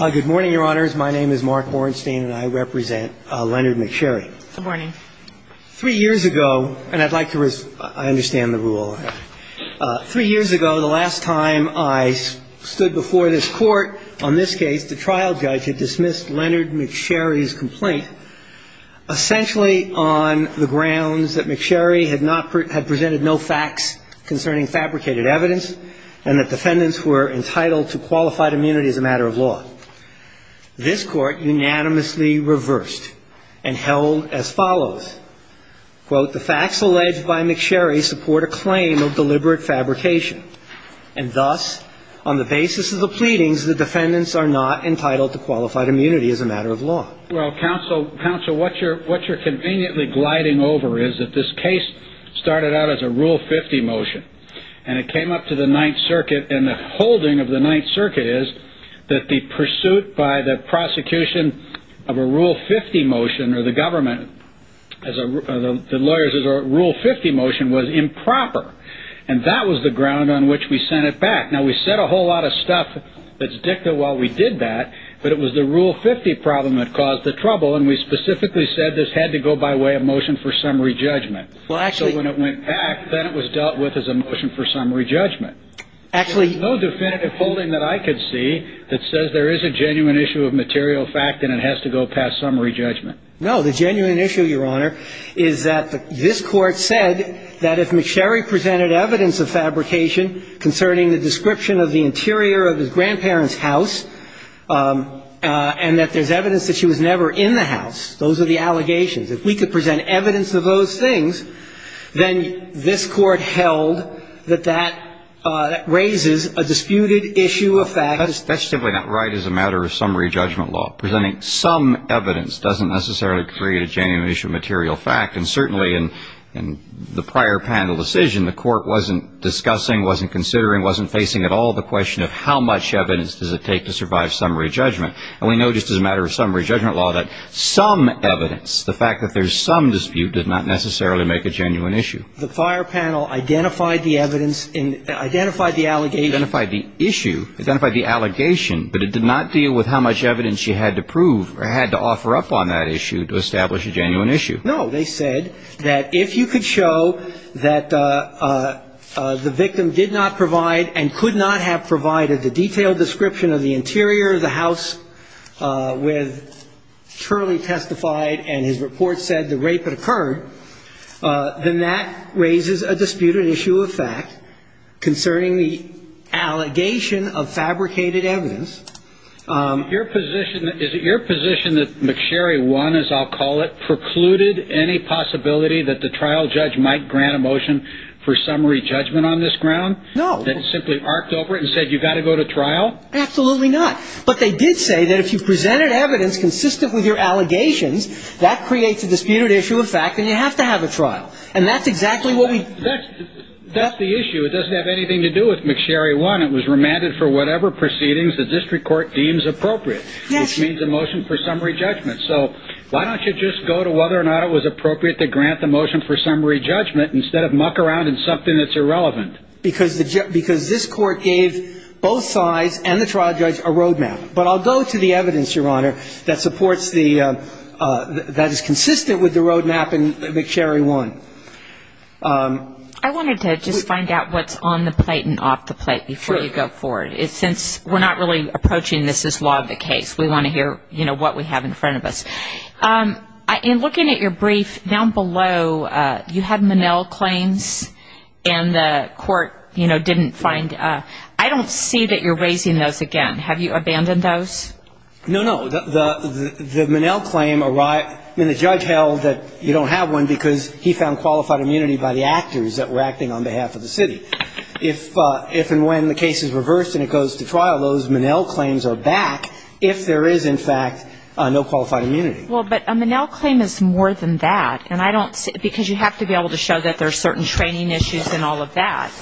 Good morning, Your Honors. My name is Mark Hornstein, and I represent Leonard McSherry. Good morning. Three years ago, and I'd like to – I understand the rule. Three years ago, the last time I stood before this Court on this case, the trial judge had dismissed Leonard McSherry's complaint, essentially on the grounds that McSherry had presented no facts concerning fabricated evidence and that defendants were entitled to qualified immunity as a matter of law. This Court unanimously reversed and held as follows. Quote, the facts alleged by McSherry support a claim of deliberate fabrication, and thus, on the basis of the pleadings, the defendants are not entitled to qualified immunity as a matter of law. Well, counsel, what you're conveniently gliding over is that this case started out as a Rule 50 motion, and it came up to the Ninth Circuit, and the holding of the Ninth Circuit is that the pursuit by the prosecution of a Rule 50 motion, or the government, the lawyers' Rule 50 motion, was improper. And that was the ground on which we sent it back. Now, we said a whole lot of stuff that's dicta while we did that, but it was the Rule 50 problem that caused the trouble, and we specifically said this had to go by way of motion for summary judgment. So when it went back, then it was dealt with as a motion for summary judgment. There's no definitive holding that I could see that says there is a genuine issue of material fact and it has to go past summary judgment. No. The genuine issue, Your Honor, is that this Court said that if McSherry presented evidence of fabrication concerning the description of the interior of his grandparents' house and that there's evidence that she was never in the house, those are the allegations. If we could present evidence of those things, then this Court held that that raises a disputed issue of fact. That's simply not right as a matter of summary judgment law. Presenting some evidence doesn't necessarily create a genuine issue of material fact. And certainly in the prior panel decision, the Court wasn't discussing, wasn't considering, wasn't facing at all the question of how much evidence does it take to survive summary judgment. And we know just as a matter of summary judgment law that some evidence, the fact that there's some dispute, does not necessarily make a genuine issue. The prior panel identified the evidence and identified the allegations. Identified the issue, identified the allegation, but it did not deal with how much evidence she had to prove or had to offer up on that issue to establish a genuine issue. No. They said that if you could show that the victim did not provide and could not have provided the detailed description of the interior of the house with Shirley testified and his report said the rape had occurred, then that raises a disputed issue of fact concerning the allegation of fabricated evidence. Is it your position that McSherry won, as I'll call it, precluded any possibility that the trial judge might grant a motion for summary judgment on this ground? No. That it simply arced over it and said you've got to go to trial? Absolutely not. But they did say that if you've presented evidence consistent with your allegations, that creates a disputed issue of fact and you have to have a trial. And that's exactly what we do. That's the issue. It doesn't have anything to do with McSherry won. It was remanded for whatever proceedings the district court deems appropriate, which means a motion for summary judgment. So why don't you just go to whether or not it was appropriate to grant the motion for summary judgment instead of muck around in something that's irrelevant? Because this court gave both sides and the trial judge a road map. But I'll go to the evidence, Your Honor, that supports the ‑‑ that is consistent with the road map in McSherry won. I wanted to just find out what's on the plate and off the plate before you go forward. Sure. Since we're not really approaching this as law of the case. We want to hear, you know, what we have in front of us. In looking at your brief, down below you had Monell claims and the court, you know, didn't find ‑‑ I don't see that you're raising those again. Have you abandoned those? No, no. The Monell claim ‑‑ I mean, the judge held that you don't have one because he found qualified immunity by the actors that were acting on behalf of the city. If and when the case is reversed and it goes to trial, those Monell claims are back if there is, in fact, no qualified immunity. Well, but a Monell claim is more than that. And I don't see ‑‑ because you have to be able to show that there are certain training issues and all of that.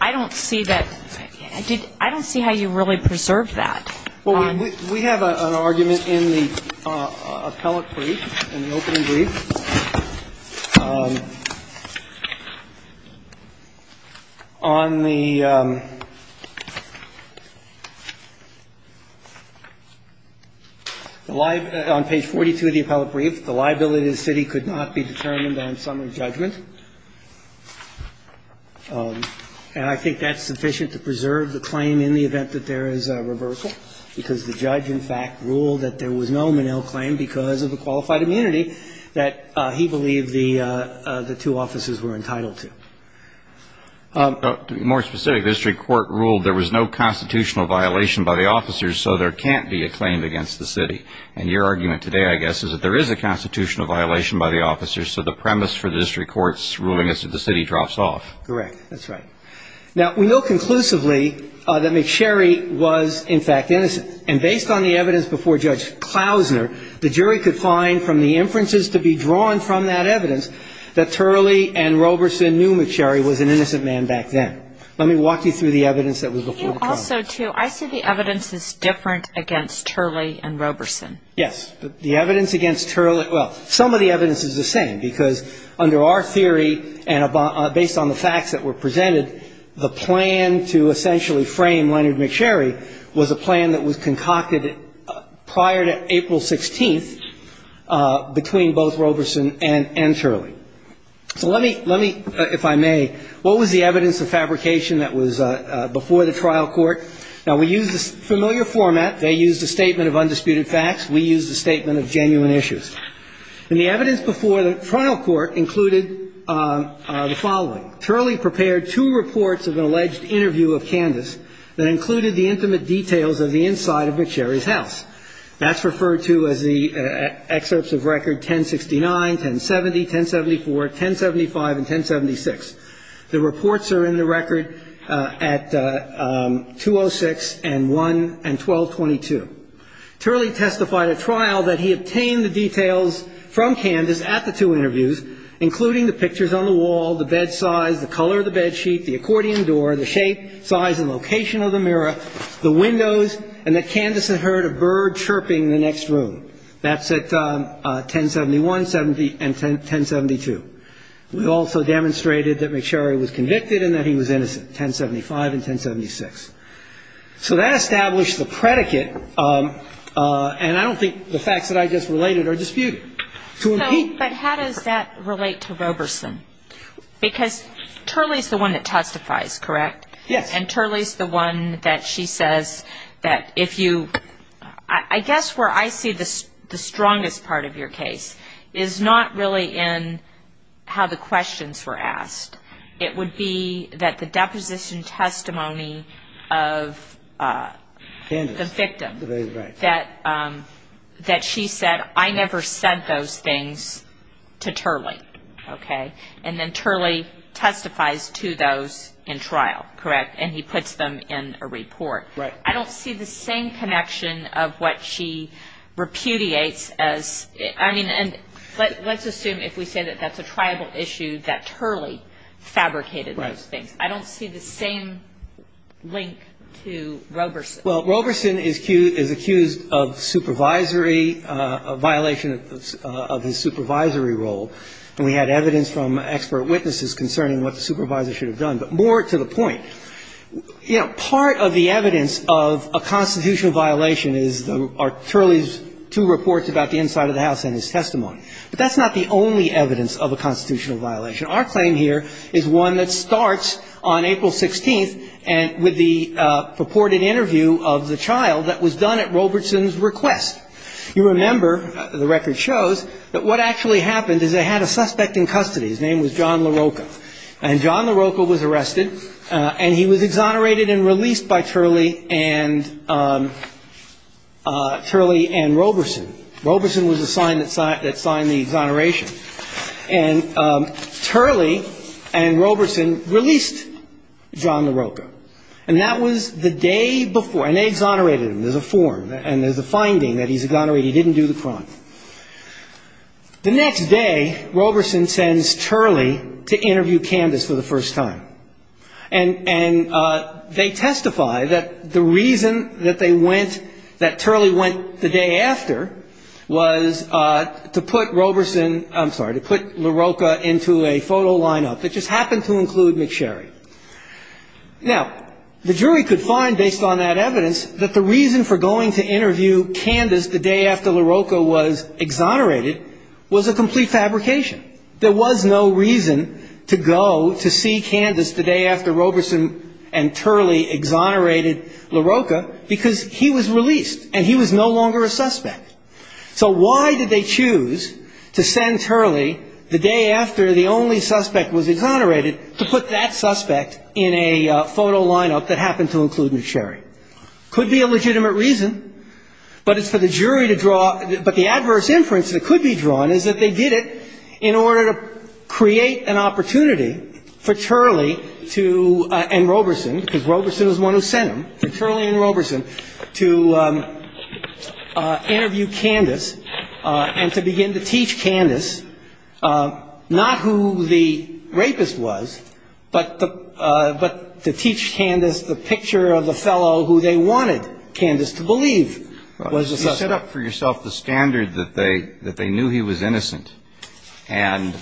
I don't see that ‑‑ I don't see how you really preserved that. Well, we have an argument in the appellate brief, in the opening brief. On the ‑‑ on page 42 of the appellate brief, the liability to the city could not be determined on summary judgment. And I think that's sufficient to preserve the claim in the event that there is a reversal, because the judge, in fact, ruled that there was no Monell claim because of the qualified immunity that he believed the two officers were entitled to. To be more specific, the district court ruled there was no constitutional violation by the officers, so there can't be a claim against the city. And your argument today, I guess, is that there is a constitutional violation by the officers, so the premise for the district court's ruling is that the city drops off. Correct. That's right. Now, we know conclusively that McSherry was, in fact, innocent. And based on the evidence before Judge Klausner, the jury could find from the inferences to be drawn from that evidence, that Turley and Roberson knew McSherry was an innocent man back then. Let me walk you through the evidence that was before the trial. Also, too, I see the evidence as different against Turley and Roberson. Yes. The evidence against Turley, well, some of the evidence is the same, because under our theory and based on the facts that were presented, the plan to essentially frame Leonard McSherry was a plan that was concocted prior to April 16th between both Roberson and Turley. So let me, if I may, what was the evidence of fabrication that was before the trial court? Now, we used a familiar format. They used a statement of undisputed facts. We used a statement of genuine issues. And the evidence before the trial court included the following. Turley prepared two reports of an alleged interview of Candace that included the intimate details of the inside of McSherry's house. That's referred to as the excerpts of record 1069, 1070, 1074, 1075, and 1076. The reports are in the record at 206 and 1222. Turley testified at trial that he obtained the details from Candace at the two interviews, including the pictures on the wall, the bed size, the color of the bed sheet, the accordion door, the shape, size, and location of the mirror, the windows, and that Candace had heard a bird chirping in the next room. That's at 1071 and 1072. We also demonstrated that McSherry was convicted and that he was innocent, 1075 and 1076. So that established the predicate, and I don't think the facts that I just related are disputed. To impede. But how does that relate to Roberson? Because Turley's the one that testifies, correct? Yes. And Turley's the one that she says that if you ‑‑ I guess where I see the strongest part of your case is not really in how the questions were asked. It would be that the deposition testimony of the victim that she said, I never sent those things to Turley, okay? And then Turley testifies to those in trial, correct? And he puts them in a report. Right. I don't see the same connection of what she repudiates as ‑‑ I mean, let's assume if we say that that's a tribal issue that Turley fabricated those things. Right. I don't see the same link to Roberson. Well, Roberson is accused of supervisory violation of his supervisory role, and we had evidence from expert witnesses concerning what the supervisor should have done. But more to the point, you know, part of the evidence of a constitutional violation is Turley's two reports about the inside of the house and his testimony. But that's not the only evidence of a constitutional violation. Our claim here is one that starts on April 16th with the purported interview of the child that was done at Roberson's request. You remember, the record shows, that what actually happened is they had a suspect in custody. His name was John LaRocca. And John LaRocca was arrested, and he was exonerated and released by Turley and Roberson. Roberson was assigned the exoneration. And Turley and Roberson released John LaRocca. And that was the day before. And they exonerated him. There's a form, and there's a finding that he's exonerated. He didn't do the crime. The next day, Roberson sends Turley to interview Candice for the first time. And they testify that the reason that they went, that Turley went the day after, was to put Roberson I'm sorry, to put LaRocca into a photo lineup that just happened to include McSherry. Now, the jury could find, based on that evidence, that the reason for going to interview Candice the day after LaRocca was exonerated was a complete fabrication. There was no reason to go to see Candice the day after Roberson and Turley exonerated LaRocca, because he was released, and he was no longer a suspect. So why did they choose to send Turley the day after the only suspect was exonerated to put that suspect in a photo lineup that happened to include McSherry? Could be a legitimate reason. But it's for the jury to draw. But the adverse inference that could be drawn is that they did it in order to create an opportunity for Turley and Roberson, because Roberson was the one who sent him, for Turley and Roberson to interview Candice and to begin to teach Candice not who the rapist was, but to teach Candice the picture of the fellow who they wanted Candice to believe was the suspect. You set up for yourself the standard that they knew he was innocent. And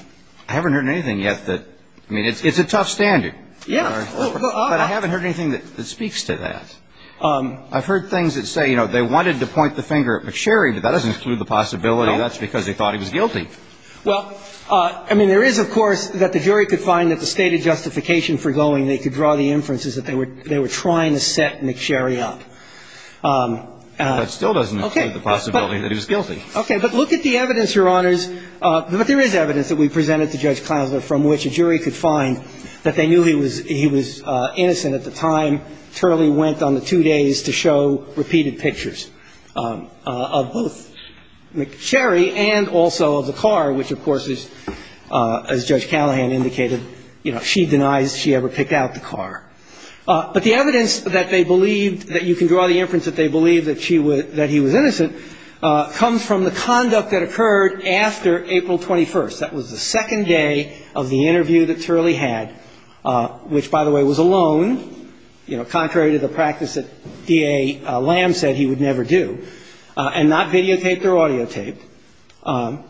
I haven't heard anything yet that – I mean, it's a tough standard. Yeah. But I haven't heard anything that speaks to that. I've heard things that say, you know, they wanted to point the finger at McSherry, but that doesn't include the possibility that's because they thought he was guilty. Well, I mean, there is, of course, that the jury could find that the stated justification for going, I mean, they could draw the inferences that they were trying to set McSherry up. That still doesn't include the possibility that he was guilty. Okay. But look at the evidence, Your Honors. But there is evidence that we presented to Judge Klausner from which a jury could find that they knew he was innocent at the time Turley went on the two days to show repeated pictures of both McSherry and also of the car, which of course is, as Judge Callahan indicated, you know, she denies she ever picked out the car. But the evidence that they believed, that you can draw the inference that they believed that he was innocent, comes from the conduct that occurred after April 21st. That was the second day of the interview that Turley had, which, by the way, was alone, you know, contrary to the practice that D.A. Lamb said he would never do, and not videotaped or audiotaped.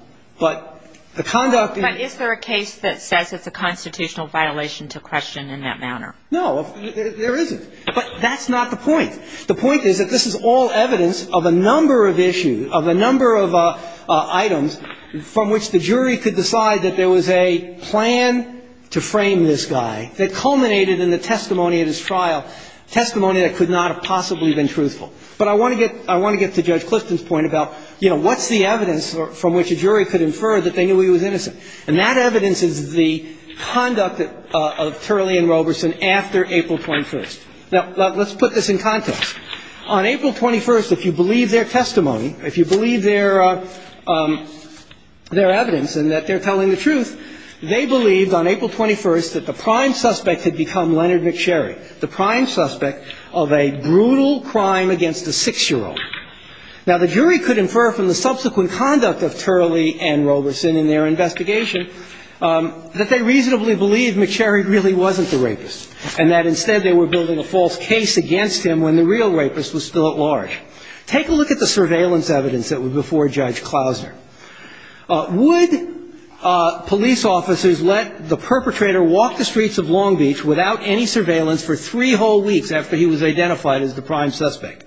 But the conduct in the case that says it's a constitutional violation to question in that manner. No, there isn't. But that's not the point. The point is that this is all evidence of a number of issues, of a number of items from which the jury could decide that there was a plan to frame this guy that culminated in the testimony at his trial, testimony that could not have possibly been truthful. But I want to get to Judge Clifton's point about, you know, what's the evidence from which a jury could infer that they knew he was innocent? And that evidence is the conduct of Turley and Roberson after April 21st. Now, let's put this in context. On April 21st, if you believe their testimony, if you believe their evidence and that they're telling the truth, they believed on April 21st that the prime suspect had become Leonard McSherry, the prime suspect of a brutal crime against a 6-year-old. Now, the jury could infer from the subsequent conduct of Turley and Roberson in their investigation that they reasonably believed McSherry really wasn't the rapist, and that instead they were building a false case against him when the real rapist was still at large. Take a look at the surveillance evidence that was before Judge Klausner. Would police officers let the perpetrator walk the streets of Long Beach without any surveillance for three whole weeks after he was identified as the prime suspect?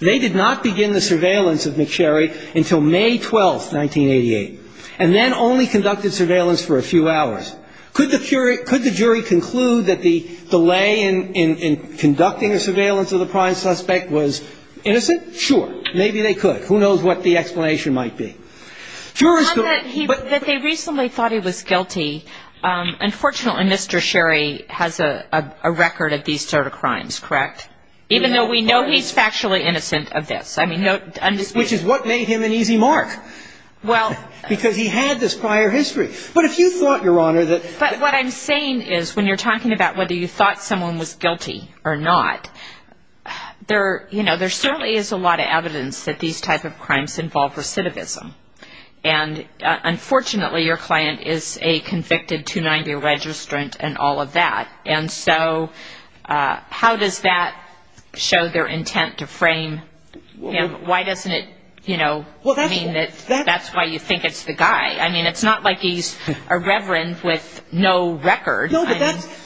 They did not begin the surveillance of McSherry until May 12th, 1988, and then only conducted surveillance for a few hours. Could the jury conclude that the delay in conducting the surveillance of the prime suspect was innocent? Sure. Maybe they could. Who knows what the explanation might be? That they reasonably thought he was guilty, unfortunately Mr. Sherry has a record of these sort of crimes, correct? Even though we know he's factually innocent of this. Which is what made him an easy mark, because he had this prior history. But if you thought, Your Honor, that... But what I'm saying is when you're talking about whether you thought someone was guilty or not, there certainly is a lot of evidence that these type of crimes involve recidivism. And unfortunately your client is a convicted 290 registrant and all of that. And so how does that show their intent to frame him? Why doesn't it mean that that's why you think it's the guy? I mean it's not like he's a reverend with no record. No, but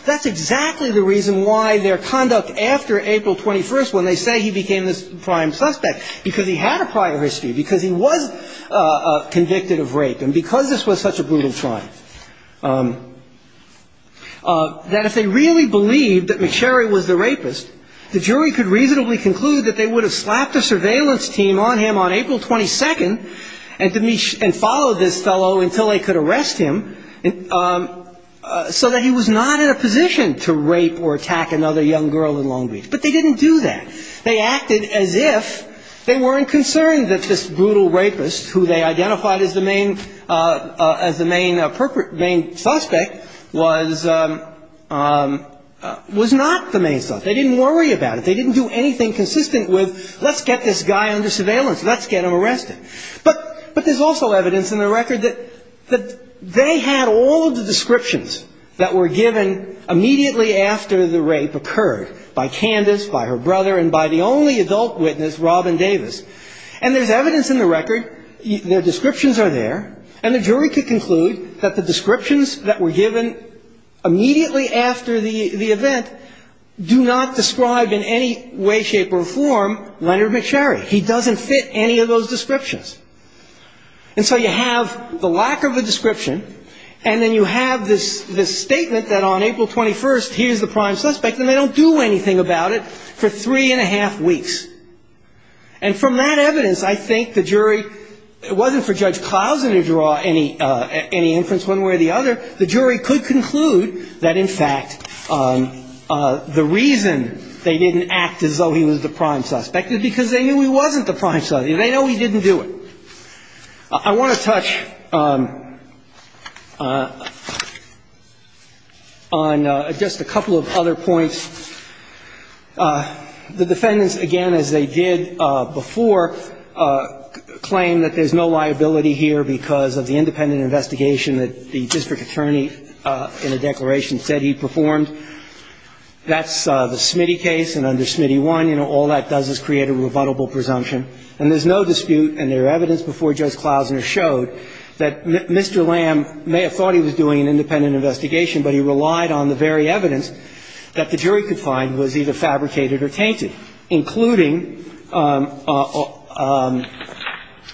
that's exactly the reason why their conduct after April 21st when they say he became this prime suspect, because he had a prior history, because he was convicted of rape, and because this was such a brutal crime. That if they really believed that McSherry was the rapist, the jury could reasonably conclude that they would have slapped a surveillance team on him on April 22nd and followed this fellow until they could arrest him, so that he was not in a position to rape or attack another young girl in Long Beach. But they didn't do that. They acted as if they weren't concerned that this brutal rapist, who they identified as the main suspect, was not the main suspect. They didn't worry about it. They didn't do anything consistent with let's get this guy under surveillance. Let's get him arrested. But there's also evidence in the record that they had all of the descriptions that were given immediately after the rape occurred, by Candace, by her brother, and by the only adult witness, Robin Davis. And there's evidence in the record, their descriptions are there, and the jury could conclude that the descriptions that were given immediately after the event do not describe in any way, shape, or form Leonard McSherry. He doesn't fit any of those descriptions. And so you have the lack of a description, and then you have this statement that on April 21st he is the prime suspect, and they don't do anything about it for three and a half weeks. And from that evidence, I think the jury, it wasn't for Judge Clousen to draw any inference one way or the other. The jury could conclude that, in fact, the reason they didn't act as though he was the prime suspect is because they knew he wasn't the prime suspect. They know he didn't do it. I want to touch on just a couple of other points. The defendants, again, as they did before, claim that there's no liability here because of the independent investigation that the district attorney in the declaration said he performed. That's the Smitty case, and under Smitty I, you know, all that does is create a rebuttable presumption. And there's no dispute, and there's evidence before Judge Clousen showed, that Mr. Lamb may have thought he was doing an independent investigation, but he relied on the very evidence that the jury could find was either fabricated or tainted, including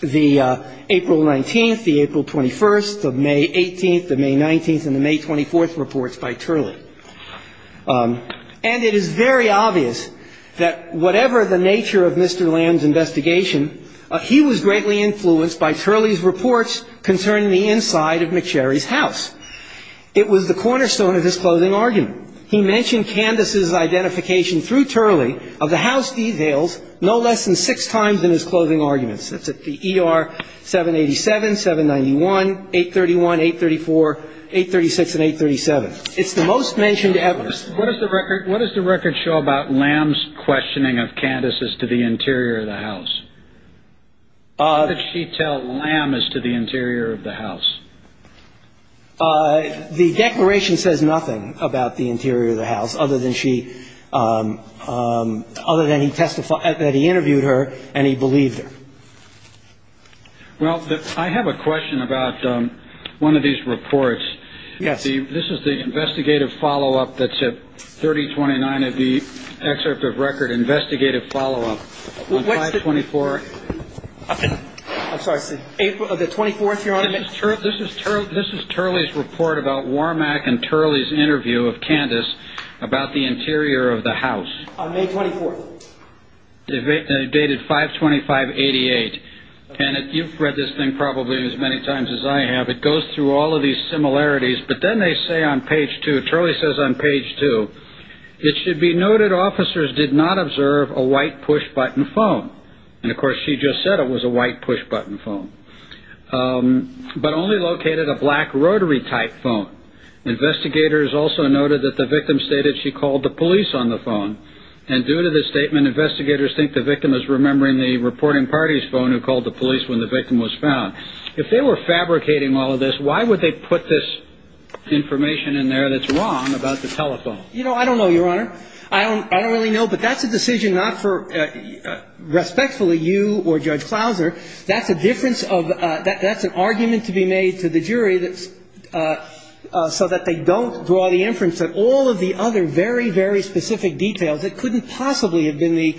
the April 19th, the April 21st, the May 18th, the May 19th, and the May 24th reports by Turley. And it is very obvious that whatever the nature of Mr. Lamb's investigation, he was greatly influenced by Turley's reports concerning the inside of McSherry's house. It was the cornerstone of his closing argument. He mentioned Candace's identification through Turley of the house details no less than six times in his closing arguments. That's at the ER 787, 791, 831, 834, 836, and 837. It's the most mentioned evidence. What does the record show about Lamb's questioning of Candace's to the interior of the house? What did she tell Lamb as to the interior of the house? The declaration says nothing about the interior of the house other than she ñ other than he testified ñ that he interviewed her and he believed her. Well, I have a question about one of these reports. Yes. This is the investigative follow-up that's at 3029 of the excerpt of record, investigative follow-up. What's the ñ On 5-24. I'm sorry. April ñ the 24th, Your Honor. This is Turley's report about Wormack and Turley's interview of Candace about the interior of the house. On May 24th. Dated 5-25-88. And you've read this thing probably as many times as I have. It goes through all of these similarities. But then they say on page 2, Turley says on page 2, it should be noted officers did not observe a white push-button phone. And, of course, she just said it was a white push-button phone. But only located a black rotary-type phone. Investigators also noted that the victim stated she called the police on the phone. And due to this statement, investigators think the victim is remembering the reporting party's phone who called the police when the victim was found. If they were fabricating all of this, why would they put this information in there that's wrong about the telephone? You know, I don't know, Your Honor. I don't really know. But that's a decision not for respectfully you or Judge Clauser. That's a difference of that's an argument to be made to the jury so that they don't draw the inference that all of the other very, very specific details that couldn't possibly have been the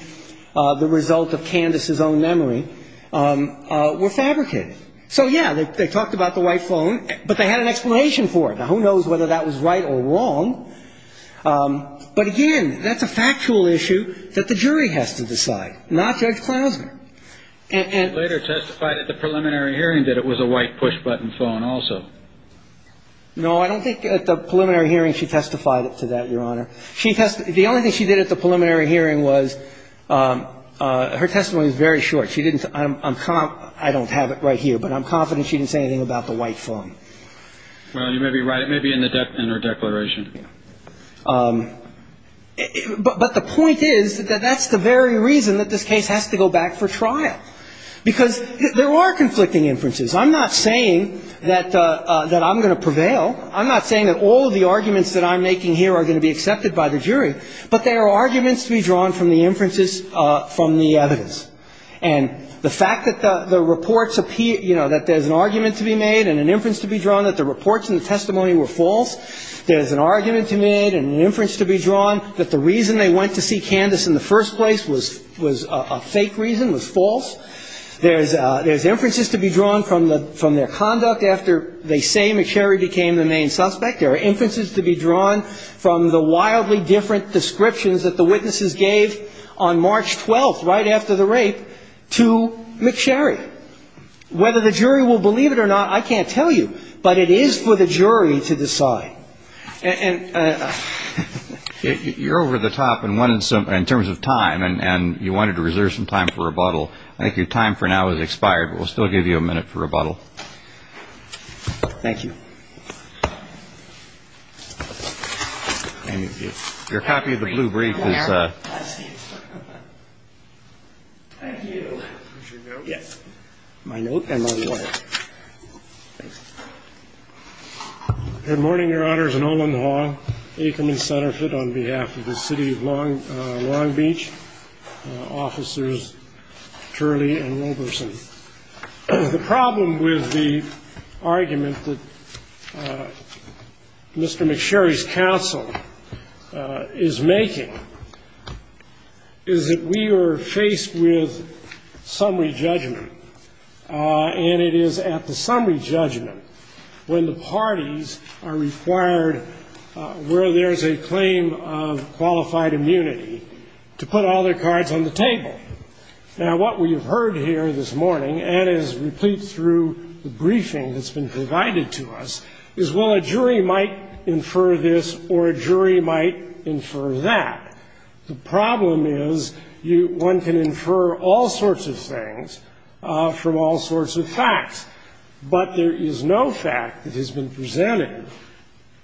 result of Candace's own memory were fabricated. So, yeah, they talked about the white phone. But they had an explanation for it. Now, who knows whether that was right or wrong. But, again, that's a factual issue that the jury has to decide, not Judge Clauser. And later testified at the preliminary hearing that it was a white push-button phone also. No, I don't think at the preliminary hearing she testified to that, Your Honor. The only thing she did at the preliminary hearing was her testimony was very short. She didn't say I don't have it right here. But I'm confident she didn't say anything about the white phone. Well, you may be right. Maybe in her declaration. But the point is that that's the very reason that this case has to go back for trial. Because there are conflicting inferences. I'm not saying that I'm going to prevail. I'm not saying that all of the arguments that I'm making here are going to be accepted by the jury. But there are arguments to be drawn from the inferences from the evidence. And the fact that the reports appear, you know, that there's an argument to be made and an inference to be drawn, that the reports in the testimony were false, there's an argument to be made and an inference to be drawn, that the reason they went to see Candace in the first place was a fake reason, was false. There's inferences to be drawn from their conduct after they say McSherry became the main suspect. There are inferences to be drawn from the wildly different descriptions that the witnesses gave on March 12th, right after the rape, to McSherry. Whether the jury will believe it or not, I can't tell you. But it is for the jury to decide. And you're over the top in terms of time, and you wanted to reserve some time for rebuttal. I think your time for now has expired, but we'll still give you a minute for rebuttal. Thank you. Your copy of the blue brief is. Thank you. Yes. My note and my wife. Good morning, Your Honors. Nolan Hall, Aikerman Centerfit on behalf of the city of Long Beach, officers Turley and Roberson. The problem with the argument that Mr. McSherry's counsel is making is that we are faced with summary judgment, and it is at the summary judgment when the parties are required, where there is a claim of qualified immunity, to put all their cards on the table. Now, what we have heard here this morning and is replete through the briefing that's been provided to us is, well, a jury might infer this or a jury might infer that. The problem is one can infer all sorts of things from all sorts of facts, but there is no fact that has been presented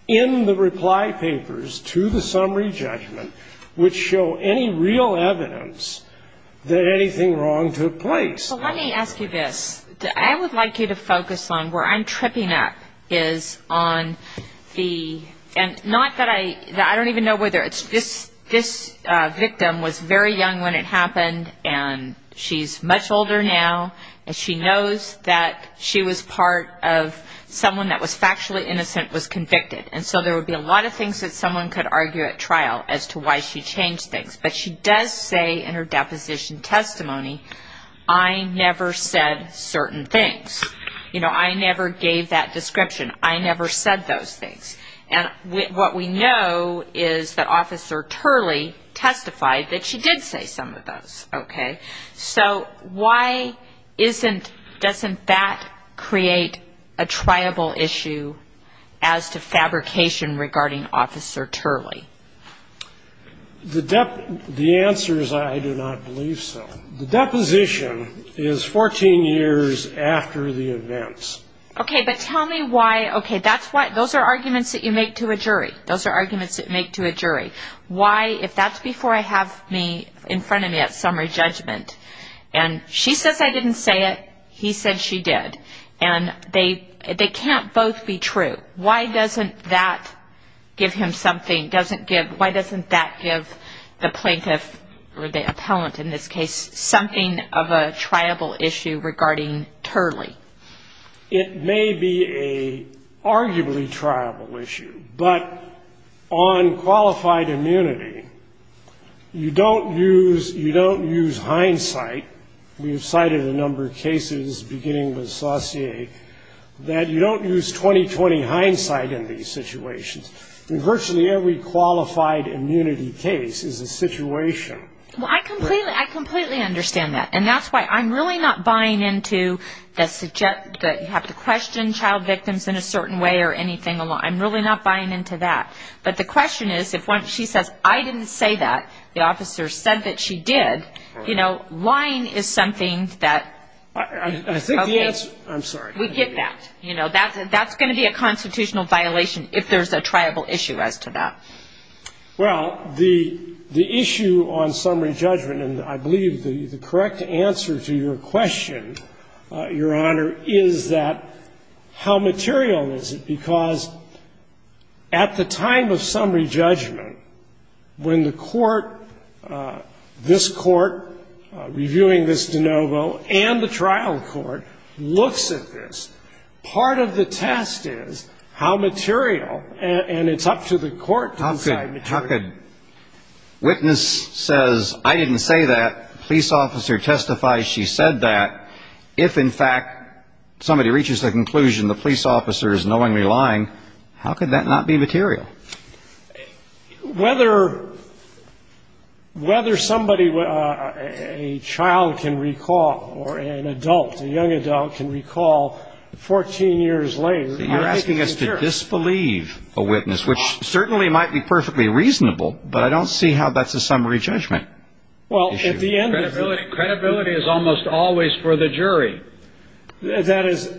in the reply papers to the summary judgment which show any real evidence that anything wrong took place. Well, let me ask you this. I would like you to focus on where I'm tripping up is on the, and not that I, I don't even know whether it's, this victim was very young when it happened, and she's much older now, and she knows that she was part of someone that was factually innocent was convicted, and so there would be a lot of things that someone could argue at trial as to why she changed things, but she does say in her deposition testimony, I never said certain things. You know, I never gave that description. I never said those things. And what we know is that Officer Turley testified that she did say some of those, okay? So why isn't, doesn't that create a triable issue as to fabrication regarding Officer Turley? The answer is I do not believe so. The deposition is 14 years after the events. Okay, but tell me why, okay, that's why, those are arguments that you make to a jury. Why, if that's before I have me in front of me at summary judgment, and she says I didn't say it, he said she did, and they can't both be true, why doesn't that give him something, doesn't give, why doesn't that give the plaintiff or the appellant in this case something of a triable issue regarding Turley? It may be an arguably triable issue, but on qualified immunity, you don't use, you don't use hindsight. We have cited a number of cases, beginning with Saucier, that you don't use 20-20 hindsight in these situations. In virtually every qualified immunity case is a situation. Well, I completely, I completely understand that. And that's why I'm really not buying into the, you have to question child victims in a certain way or anything along, I'm really not buying into that. But the question is if when she says I didn't say that, the officer said that she did, you know, lying is something that. I think the answer, I'm sorry. We get that. You know, that's going to be a constitutional violation if there's a triable issue as to that. Well, the issue on summary judgment, and I believe the correct answer to your question, Your Honor, is that how material is it? Because at the time of summary judgment, when the court, this court reviewing this de novo and the trial court looks at this, part of the test is how material, and it's up to the court to decide material. How could witness says I didn't say that, police officer testifies she said that, if in fact somebody reaches the conclusion the police officer is knowingly lying, how could that not be material? Whether somebody, a child can recall or an adult, a young adult can recall 14 years later. You're asking us to disbelieve a witness, which certainly might be perfectly reasonable, but I don't see how that's a summary judgment issue. Well, at the end of the day. Credibility is almost always for the jury. That is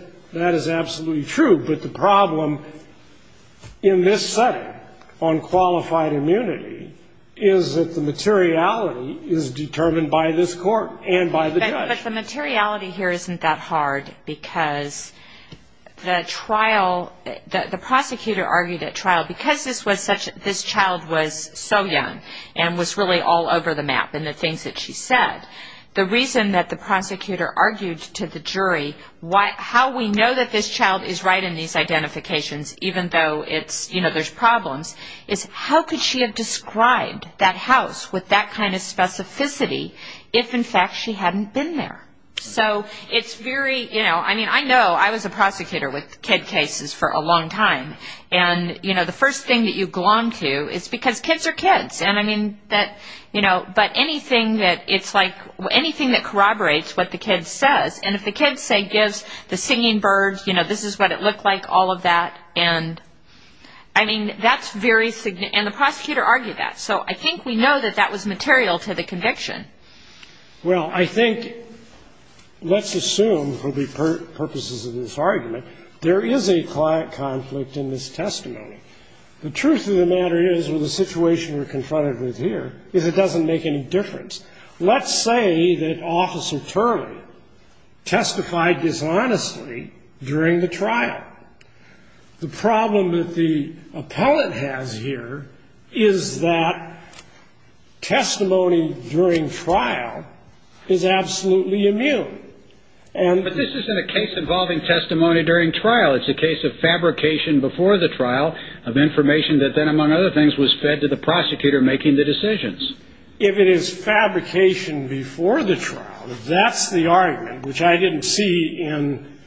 absolutely true. But the problem in this setting on qualified immunity is that the materiality is determined by this court and by the judge. But the materiality here isn't that hard because the trial, the prosecutor argued at trial, because this child was so young and was really all over the map in the things that she said, the reason that the prosecutor argued to the jury how we know that this child is right in these identifications, even though there's problems, is how could she have described that house with that kind of specificity if in fact she hadn't been there? So it's very, I mean, I know I was a prosecutor with kid cases for a long time, and the first thing that you glom to is because kids are kids. And I mean, that, you know, but anything that it's like, anything that corroborates what the kid says, and if the kid, say, gives the singing bird, you know, this is what it looked like, all of that, and I mean, that's very significant. And the prosecutor argued that. So I think we know that that was material to the conviction. Well, I think, let's assume for the purposes of this argument, there is a conflict in this testimony. The truth of the matter is, with the situation we're confronted with here, is it doesn't make any difference. Let's say that Officer Turley testified dishonestly during the trial. The problem that the appellate has here is that testimony during trial is absolutely immune. But this isn't a case involving testimony during trial. It's a case of fabrication before the trial of information that then, among other things, was fed to the prosecutor making the decisions. If it is fabrication before the trial, if that's the argument, which I didn't see in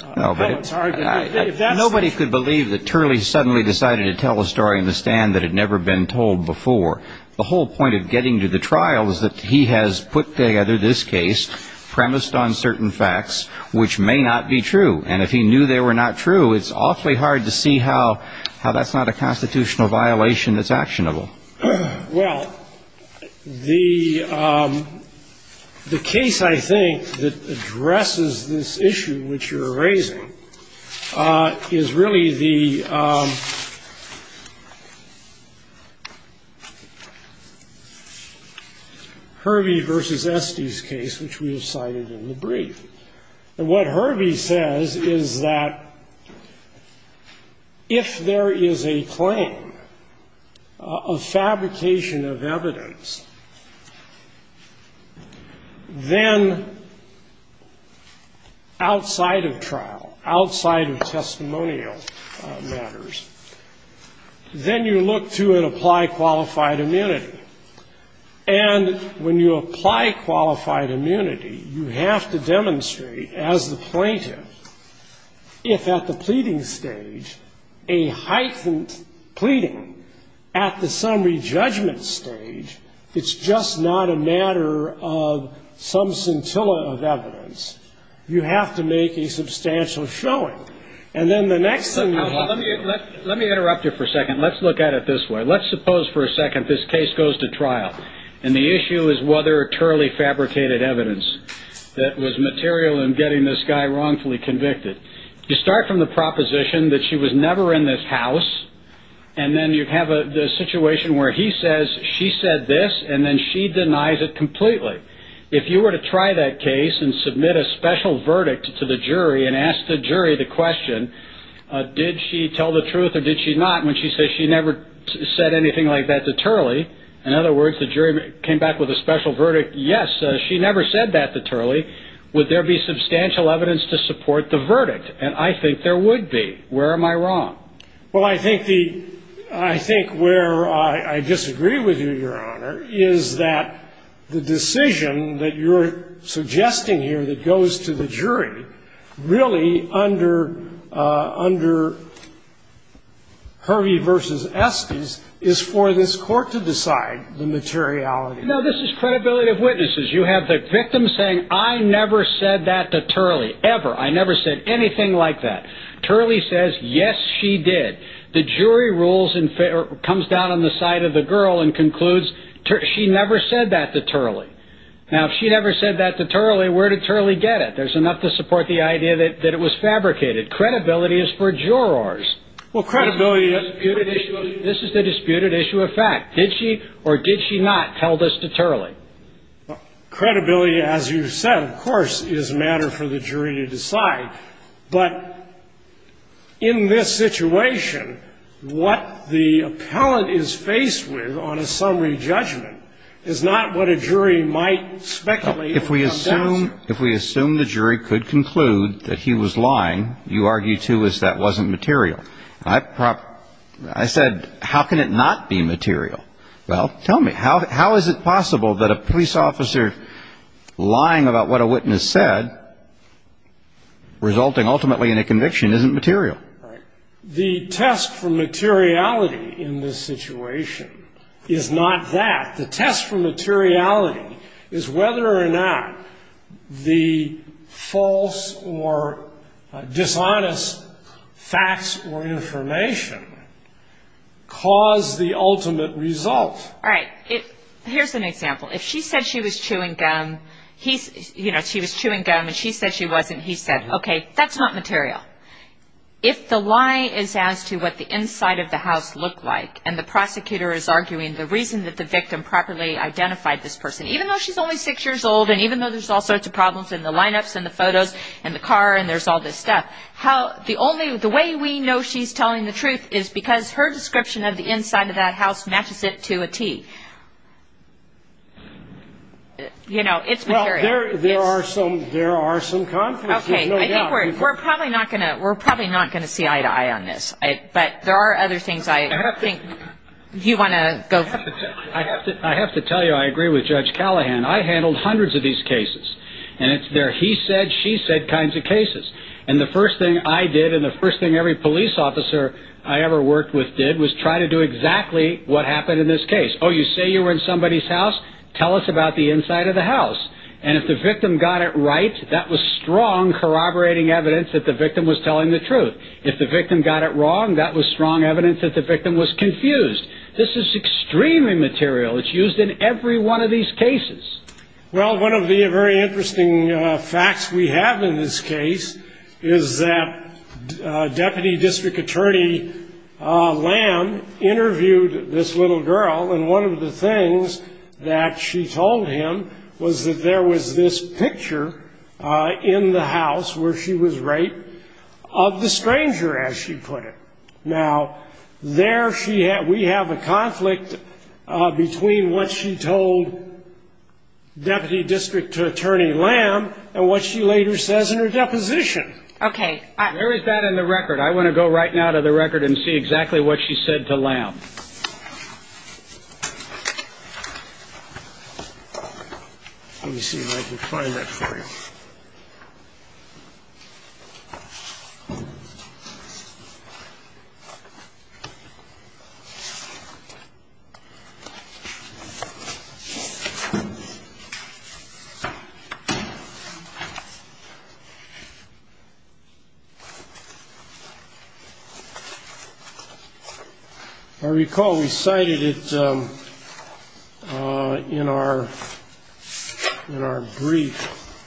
Appellate's argument. Nobody could believe that Turley suddenly decided to tell a story in the stand that had never been told before. The whole point of getting to the trial is that he has put together this case premised on certain facts which may not be true. And if he knew they were not true, it's awfully hard to see how that's not a constitutional violation that's actionable. Well, the case, I think, that addresses this issue which you're raising is really the Hervey v. Estes case, which we have cited in the brief. And what Hervey says is that if there is a claim of fabrication of evidence, then outside of trial, outside of testimonial matters, then you look to apply qualified immunity. And when you apply qualified immunity, you have to demonstrate, as the plaintiff, if at the pleading stage, a heightened pleading, at the summary judgment stage, it's just not a matter of some scintilla of evidence, you have to make a substantial showing. And then the next thing you have to do is... Let me interrupt you for a second. Let's look at it this way. Let's suppose, for a second, this case goes to trial. And the issue is whether it's really fabricated evidence that was material in getting this guy wrongfully convicted. You start from the proposition that she was never in this house. And then you have a situation where he says she said this, and then she denies it completely. If you were to try that case and submit a special verdict to the jury and ask the jury the question, did she tell the truth or did she not, when she says she never said anything like that to Turley, in other words, the jury came back with a special verdict, yes, she never said that to Turley, would there be substantial evidence to support the verdict? And I think there would be. Where am I wrong? Well, I think the – I think where I disagree with you, Your Honor, is that the decision that you're suggesting here that goes to the jury, really under Hervey v. Estes is for this court to decide the materiality. No, this is credibility of witnesses. You have the victim saying, I never said that to Turley, ever. I never said anything like that. Turley says, yes, she did. The jury rules and comes down on the side of the girl and concludes, she never said that to Turley. Now, if she never said that to Turley, where did Turley get it? There's enough to support the idea that it was fabricated. Credibility is for jurors. This is the disputed issue of fact. Did she or did she not tell this to Turley? Credibility, as you said, of course, is a matter for the jury to decide. But in this situation, what the appellant is faced with on a summary judgment is not what a jury might speculate. If we assume the jury could conclude that he was lying, you argue, too, is that wasn't material. I said, how can it not be material? Well, tell me, how is it possible that a police officer lying about what a witness said, resulting ultimately in a conviction, isn't material? The test for materiality in this situation is not that. All right. Here's an example. If she said she was chewing gum and she said she wasn't, he said, okay, that's not material. If the lie is as to what the inside of the house looked like and the prosecutor is arguing the reason that the victim properly identified this person, even though she's only 6 years old and even though there's all sorts of problems in the lineups and the photos and the car and there's all this stuff, the way we know she's telling the truth is because her description of the inside of that house matches it to a T. It's material. There are some conflicts, there's no doubt. We're probably not going to see eye to eye on this, but there are other things I think you want to go through. I have to tell you I agree with Judge Callahan. I handled hundreds of these cases, and it's their he said, she said kinds of cases. And the first thing I did and the first thing every police officer I ever worked with did was try to do exactly what happened in this case. Oh, you say you were in somebody's house. Tell us about the inside of the house. And if the victim got it right, that was strong corroborating evidence that the victim was telling the truth. If the victim got it wrong, that was strong evidence that the victim was confused. This is extremely material. It's used in every one of these cases. Well, one of the very interesting facts we have in this case is that Deputy District Attorney Lamb interviewed this little girl, and one of the things that she told him was that there was this picture in the house where she was raped of the stranger, as she put it. Now, there we have a conflict between what she told Deputy District Attorney Lamb and what she later says in her deposition. Okay. Where is that in the record? I want to go right now to the record and see exactly what she said to Lamb. Let me see if I can find that for you. I recall we cited it in our brief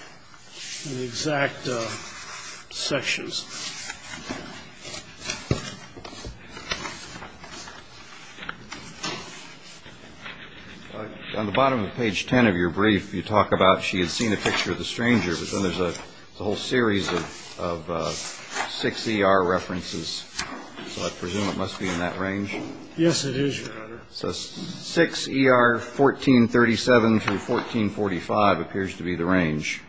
in the exact sections. On the bottom of page 10 of your brief, you talk about she had seen a picture of the stranger, but then there's a whole series of six ER references. So I presume it must be in that range. Yes, it is, Your Honor. So 6 ER 1437 through 1445 appears to be the range.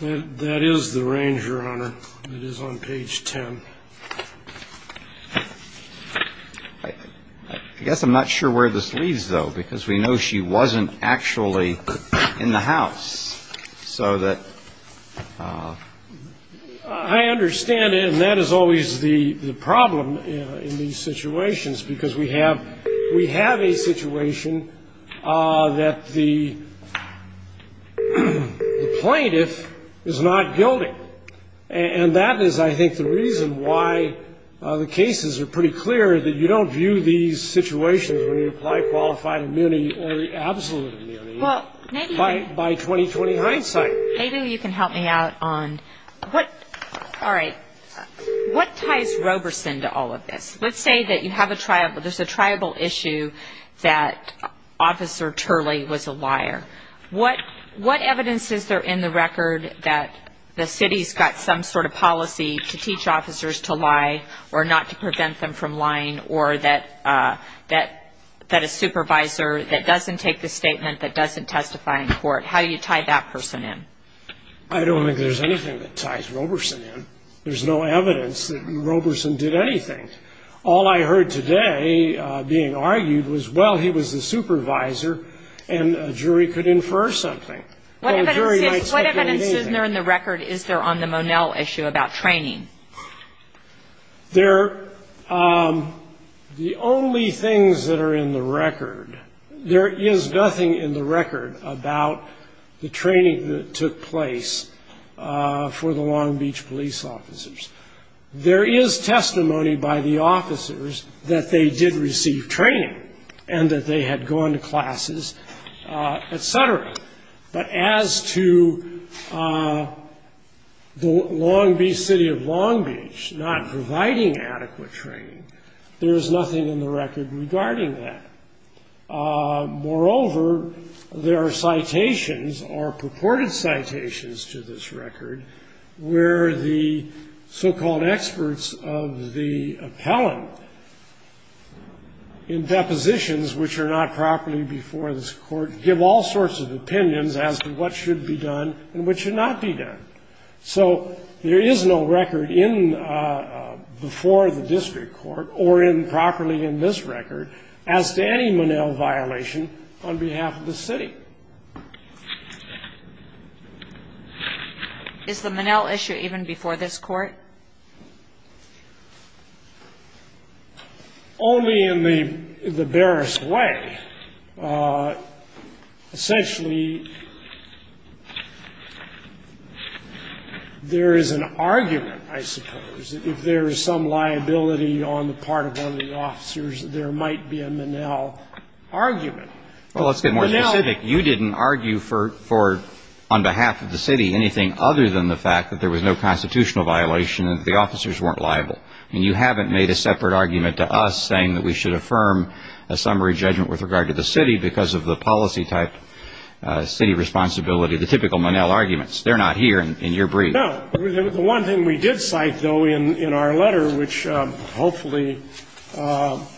That is the range, Your Honor. It is on page 10. I guess I'm not sure where this leads, though, because we know she wasn't actually in the house. I understand, and that is always the problem in these situations, because we have a situation that the plaintiff is not guilty. And that is, I think, the reason why the cases are pretty clear, that you don't view these situations when you apply qualified immunity or absolute immunity. By 2020 hindsight. Maybe you can help me out on what ties Roberson to all of this. Let's say there's a triable issue that Officer Turley was a liar. What evidence is there in the record that the city's got some sort of policy to teach officers to lie or not to prevent them from lying or that a supervisor that doesn't take the statement that doesn't testify in court? How do you tie that person in? I don't think there's anything that ties Roberson in. There's no evidence that Roberson did anything. All I heard today being argued was, well, he was the supervisor, and a jury could infer something. What evidence is there in the record, is there, on the Monell issue about training? The only things that are in the record, there is nothing in the record about the training that took place for the Long Beach police officers. There is testimony by the officers that they did receive training and that they had gone to classes, et cetera. But as to the Long Beach City of Long Beach not providing adequate training, there is nothing in the record regarding that. Moreover, there are citations or purported citations to this record where the so-called experts of the appellant in depositions, which are not properly before this court, give all sorts of opinions as to what should be done and what should not be done. So there is no record before the district court or properly in this record as to any Monell violation on behalf of the city. Is the Monell issue even before this court? Only in the barest way. Essentially, there is an argument, I suppose, if there is some liability on the part of one of the officers, there might be a Monell argument. Well, let's get more specific. You didn't argue for, on behalf of the city, anything other than the fact that there was no constitutional violation and that the officers weren't liable. And you haven't made a separate argument to us saying that we should affirm a summary judgment with regard to the city because of the policy-type city responsibility, the typical Monell arguments. They're not here in your brief. No. The one thing we did cite, though, in our letter, which hopefully all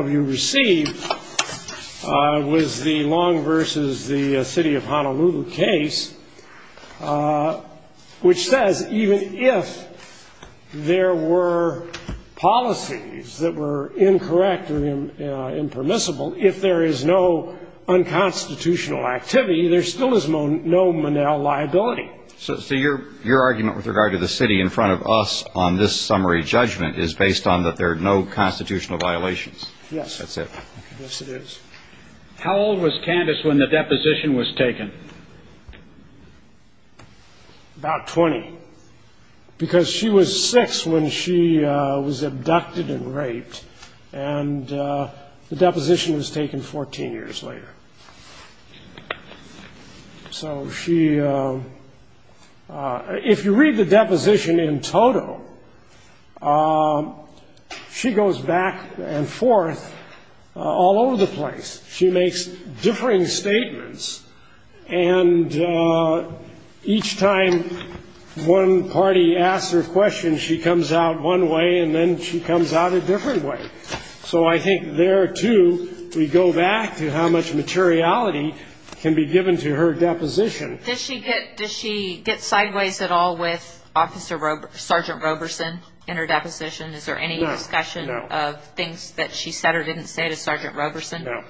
of you received, was the Long v. the City of Honolulu case, which says even if there were policies that were incorrect or impermissible, if there is no unconstitutional activity, there still is no Monell liability. So your argument with regard to the city in front of us on this summary judgment is based on that there are no constitutional violations. Yes. That's it. Yes, it is. How old was Candace when the deposition was taken? About 20. Because she was 6 when she was abducted and raped, and the deposition was taken 14 years later. So she ‑‑ if you read the deposition in total, she goes back and forth all over the place. She makes differing statements, and each time one party asks her a question, she comes out one way, and then she comes out a different way. So I think there, too, we go back to how much materiality can be given to her deposition. Does she get sideways at all with Sergeant Roberson in her deposition? Is there any discussion of things that she said or didn't say to Sergeant Roberson? No.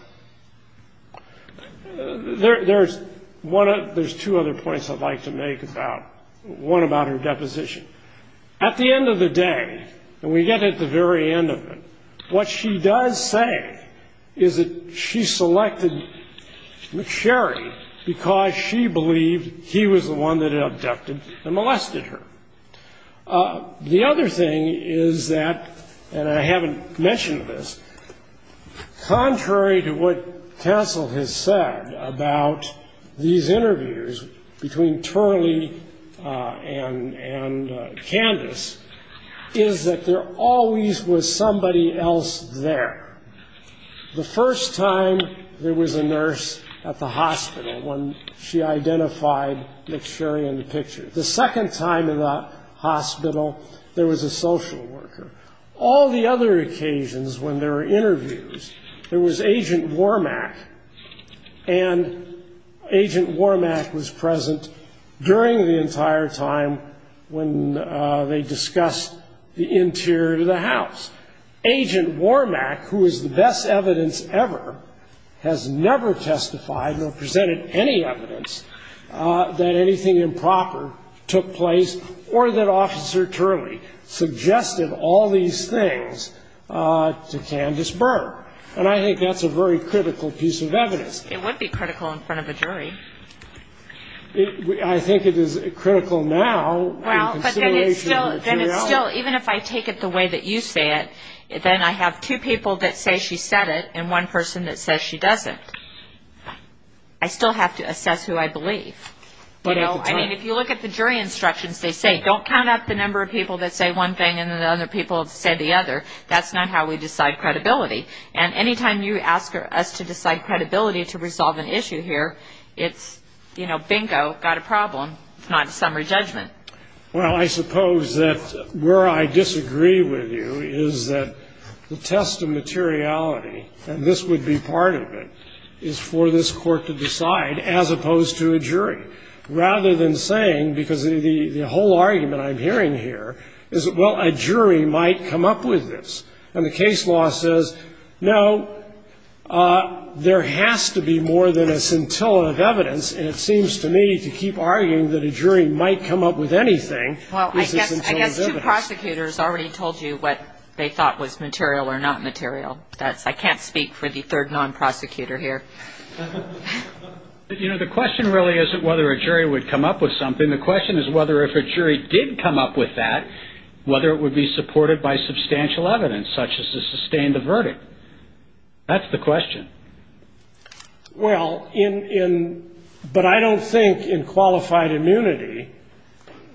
There's two other points I'd like to make about ‑‑ one about her deposition. At the end of the day, and we get at the very end of it, what she does say is that she selected McSherry because she believed he was the one that had abducted and molested her. The other thing is that, and I haven't mentioned this, contrary to what Cancel has said about these interviews between Turley and Candace, is that there always was somebody else there. The first time, there was a nurse at the hospital when she identified McSherry in the picture. The second time in the hospital, there was a social worker. All the other occasions when there were interviews, there was Agent Wormack, and Agent Wormack was present during the entire time when they discussed the interior of the house. Agent Wormack, who is the best evidence ever, has never testified or presented any evidence that anything improper took place or that Officer Turley suggested all these things to Candace Byrne. And I think that's a very critical piece of evidence. It would be critical in front of a jury. I think it is critical now. Well, but then it's still, even if I take it the way that you say it, then I have two people that say she said it and one person that says she doesn't. I still have to assess who I believe. I mean, if you look at the jury instructions, they say, don't count up the number of people that say one thing and the other people say the other. That's not how we decide credibility. And any time you ask us to decide credibility to resolve an issue here, it's, you know, bingo, got a problem. It's not a summary judgment. Well, I suppose that where I disagree with you is that the test of materiality, and this would be part of it, is for this Court to decide as opposed to a jury, rather than saying, because the whole argument I'm hearing here is, well, a jury might come up with this. And the case law says, no, there has to be more than a scintilla of evidence. And it seems to me to keep arguing that a jury might come up with anything. Well, I guess two prosecutors already told you what they thought was material or not material. I can't speak for the third non-prosecutor here. You know, the question really isn't whether a jury would come up with something. The question is whether if a jury did come up with that, whether it would be supported by substantial evidence such as to sustain the verdict. That's the question. Well, in — but I don't think, in qualified immunity,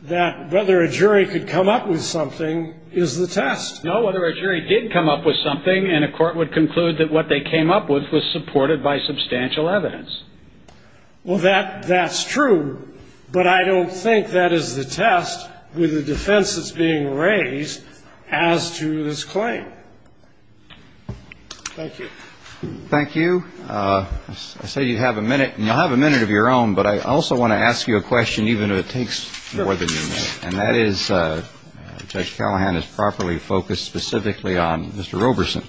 that whether a jury could come up with something is the test. No, whether a jury did come up with something, and a court would conclude that what they came up with was supported by substantial evidence. Well, that's true. But I don't think that is the test with the defense that's being raised as to this claim. Thank you. Thank you. I say you have a minute, and you'll have a minute of your own, but I also want to ask you a question, even if it takes more than a minute. Sure. And that is, Judge Callahan is properly focused specifically on Mr. Roberson.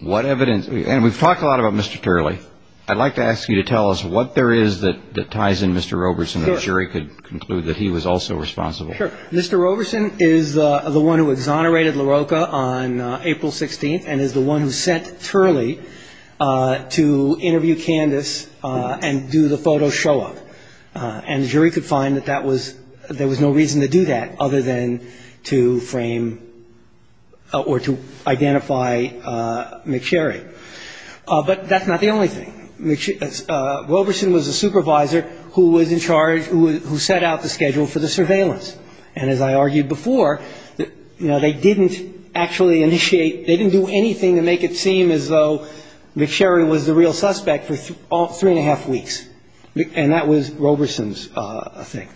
What evidence — and we've talked a lot about Mr. Turley. I'd like to ask you to tell us what there is that ties in Mr. Roberson, and the jury could conclude that he was also responsible. Sure. Mr. Roberson is the one who exonerated LaRocca on April 16th and is the one who sent Turley to interview Candice and do the photo show-up. And the jury could find that there was no reason to do that other than to frame or to identify McSherry. But that's not the only thing. Roberson was a supervisor who was in charge, who set out the schedule for the surveillance. And as I argued before, you know, they didn't actually initiate — they didn't do anything to make it seem as though McSherry was the real suspect for three and a half weeks. And that was Roberson's thing.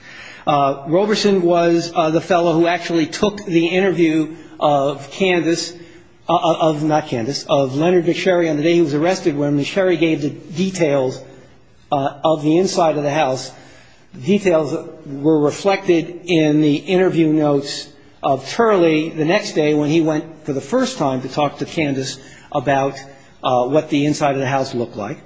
Roberson was the fellow who actually took the interview of Candice — not Candice, of Leonard McSherry on the day he was arrested, when McSherry gave the details of the inside of the house. Details were reflected in the interview notes of Turley the next day, when he went for the first time to talk to Candice about what the inside of the house looked like.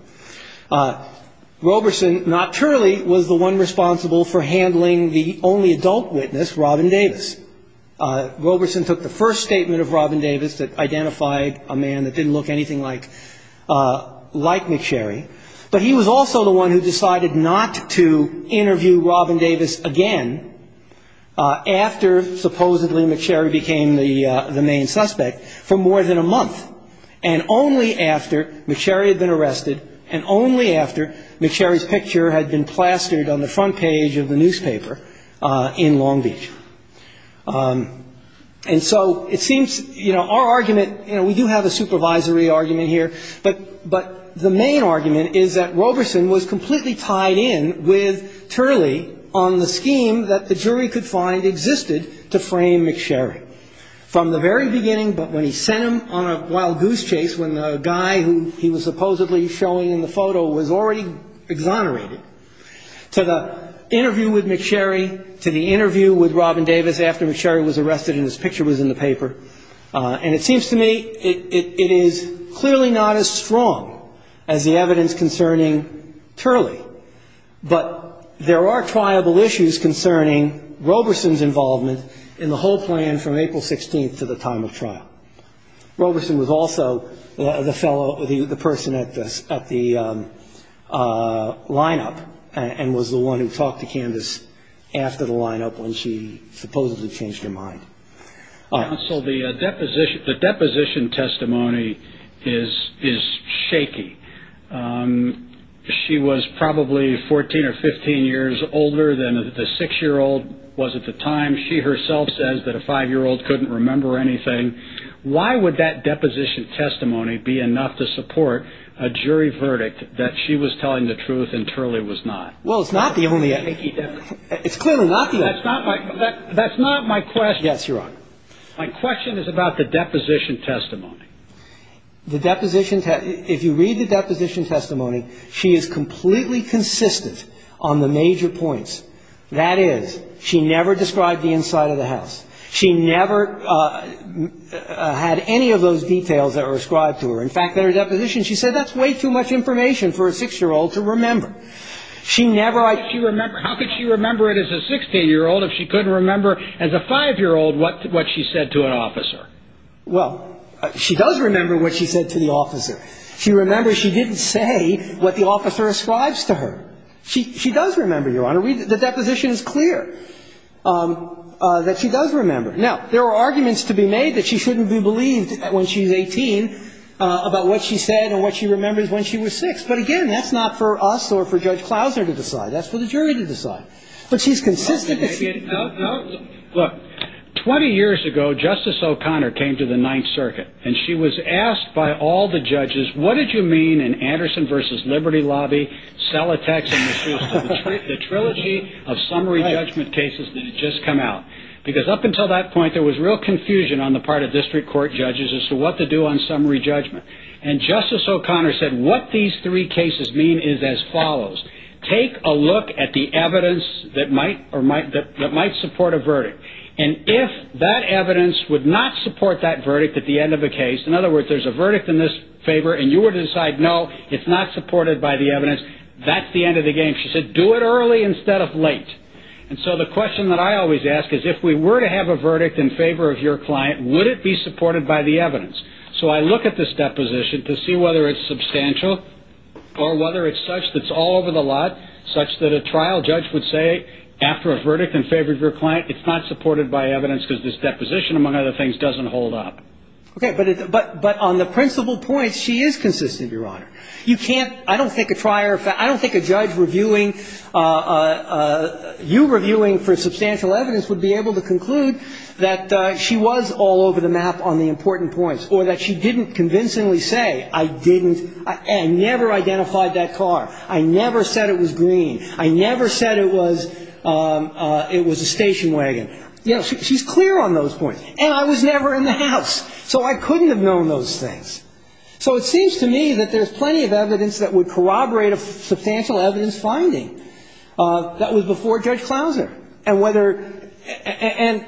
Roberson, not Turley, was the one responsible for handling the only adult witness, Robin Davis. Roberson took the first statement of Robin Davis that identified a man that didn't look anything like McSherry. But he was also the one who decided not to interview Robin Davis again after supposedly McSherry became the main suspect for more than a month, and only after McSherry had been arrested and only after McSherry's picture had been plastered on the front page of the newspaper in Long Beach. And so it seems, you know, our argument — you know, we do have a supervisory argument here, but the main argument is that Roberson was completely tied in with Turley on the scheme that the jury could find existed to frame McSherry. From the very beginning, but when he sent him on a wild goose chase, when the guy who he was supposedly showing in the photo was already exonerated, to the interview with McSherry, to the interview with Robin Davis after McSherry was arrested and his picture was in the paper. And it seems to me it is clearly not as strong as the evidence concerning Turley, but there are triable issues concerning Roberson's involvement in the whole plan from April 16th to the time of trial. Roberson was also the fellow — the person at the lineup and was the one who talked to Canvas after the lineup when she supposedly changed her mind. Counsel, the deposition testimony is shaky. She was probably 14 or 15 years older than the 6-year-old was at the time. She herself says that a 5-year-old couldn't remember anything. Why would that deposition testimony be enough to support a jury verdict that she was telling the truth and Turley was not? Well, it's not the only — it's clearly not the only — That's not my question. Yes, Your Honor. My question is about the deposition testimony. The deposition — if you read the deposition testimony, she is completely consistent on the major points. That is, she never described the inside of the house. She never had any of those details that were ascribed to her. In fact, in her deposition, she said that's way too much information for a 6-year-old to remember. She never — how could she remember it as a 6-year-old if she couldn't remember as a 5-year-old what she said to an officer? Well, she does remember what she said to the officer. She remembers she didn't say what the officer ascribes to her. She does remember, Your Honor. The deposition is clear that she does remember. Now, there are arguments to be made that she shouldn't be believed when she's 18 about what she said and what she remembers when she was 6. But, again, that's not for us or for Judge Clouser to decide. That's for the jury to decide. But she's consistent. Look, 20 years ago, Justice O'Connor came to the Ninth Circuit. And she was asked by all the judges, what did you mean in Anderson v. Liberty Lobby, Sellotex and the Trilogy of Summary Judgment Cases that had just come out? Because up until that point, there was real confusion on the part of district court judges as to what to do on summary judgment. And Justice O'Connor said, what these three cases mean is as follows. Take a look at the evidence that might support a verdict. And if that evidence would not support that verdict at the end of the case, in other words, there's a verdict in this favor and you were to decide, no, it's not supported by the evidence, that's the end of the game. She said, do it early instead of late. And so the question that I always ask is, if we were to have a verdict in favor of your client, would it be supported by the evidence? So I look at this deposition to see whether it's substantial or whether it's such that it's all over the lot, such that a trial judge would say, after a verdict in favor of your client, it's not supported by evidence because this deposition, among other things, doesn't hold up. Okay. But on the principal points, she is consistent, Your Honor. You can't – I don't think a trial – I don't think a judge reviewing – you reviewing for substantial evidence would be able to conclude that she was all over the map on the important points or that she didn't convincingly say, I didn't – I never identified that car. I never said it was green. I never said it was – it was a station wagon. You know, she's clear on those points. And I was never in the house, so I couldn't have known those things. So it seems to me that there's plenty of evidence that would corroborate a substantial evidence finding That was before Judge Clouser. And whether – and,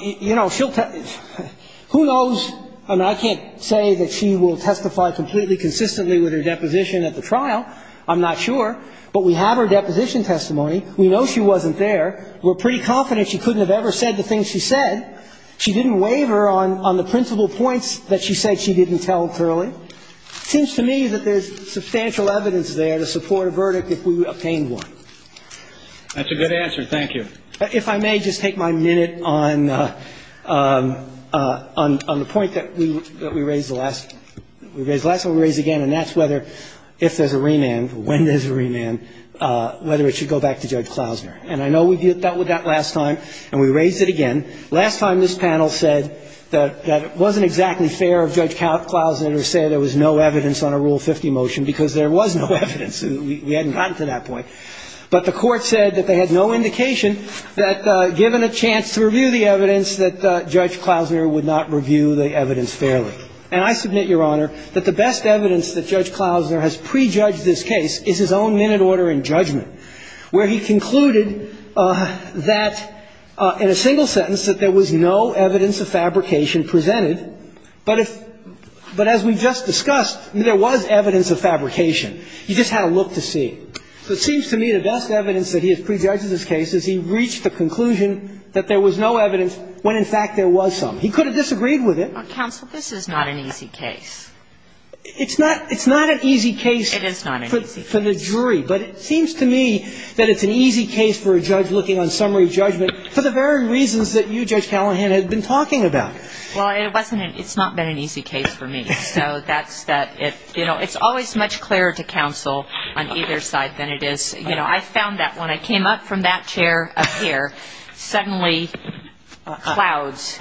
you know, she'll – who knows? I mean, I can't say that she will testify completely consistently with her deposition at the trial. I'm not sure. But we have her deposition testimony. We know she wasn't there. We're pretty confident she couldn't have ever said the things she said. She didn't waver on the principal points that she said she didn't tell thoroughly. It seems to me that there's substantial evidence there to support a verdict if we obtained one. That's a good answer. Thank you. If I may, just take my minute on the point that we raised last time. We raised it again, and that's whether, if there's a remand, when there's a remand, whether it should go back to Judge Clouser. And I know we dealt with that last time, and we raised it again. Last time, this panel said that it wasn't exactly fair of Judge Clouser to say there was no evidence on a Rule 50 motion because there was no evidence. We hadn't gotten to that point. But the Court said that they had no indication that, given a chance to review the evidence, that Judge Clouser would not review the evidence fairly. And I submit, Your Honor, that the best evidence that Judge Clouser has prejudged this case is his own minute order in judgment, where he concluded that, in a single sentence, that there was no evidence of fabrication presented, but if – but as we just discussed, there was evidence of fabrication. You just had to look to see. So it seems to me the best evidence that he has prejudged this case is he reached the conclusion that there was no evidence when, in fact, there was some. He could have disagreed with it. Counsel, this is not an easy case. It's not – it's not an easy case for the jury. But it seems to me that it's an easy case for a judge looking on summary judgment for the very reasons that you, Judge Callahan, have been talking about. Well, it wasn't an – it's not been an easy case for me. So that's that. You know, it's always much clearer to counsel on either side than it is – you know, I found that when I came up from that chair up here, suddenly, clouds.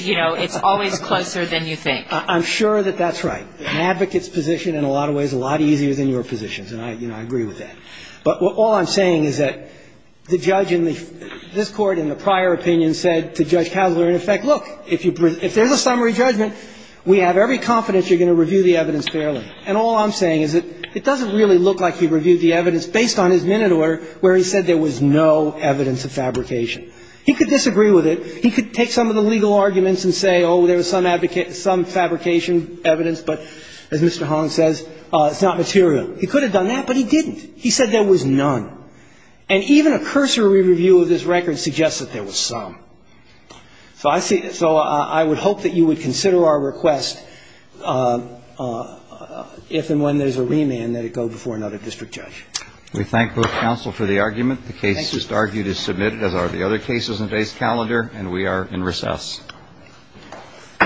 You know, it's always closer than you think. I'm sure that that's right. An advocate's position, in a lot of ways, is a lot easier than your position. And I – you know, I agree with that. But all I'm saying is that the judge in the – this Court, in the prior opinion, said to Judge Kasler, in effect, look, if you – if there's a summary judgment, we have every confidence you're going to review the evidence fairly. And all I'm saying is that it doesn't really look like he reviewed the evidence based on his minute order where he said there was no evidence of fabrication. He could disagree with it. He could take some of the legal arguments and say, oh, there was some fabrication evidence, but as Mr. Holland says, it's not material. He could have done that, but he didn't. He said there was none. And even a cursory review of this record suggests that there was some. So I see – so I would hope that you would consider our request, if and when there's a remand, that it go before another district judge. We thank both counsel for the argument. The case just argued is submitted, as are the other cases in today's calendar, and we are in recess. Thank you. All rise as part of the session is adjourned.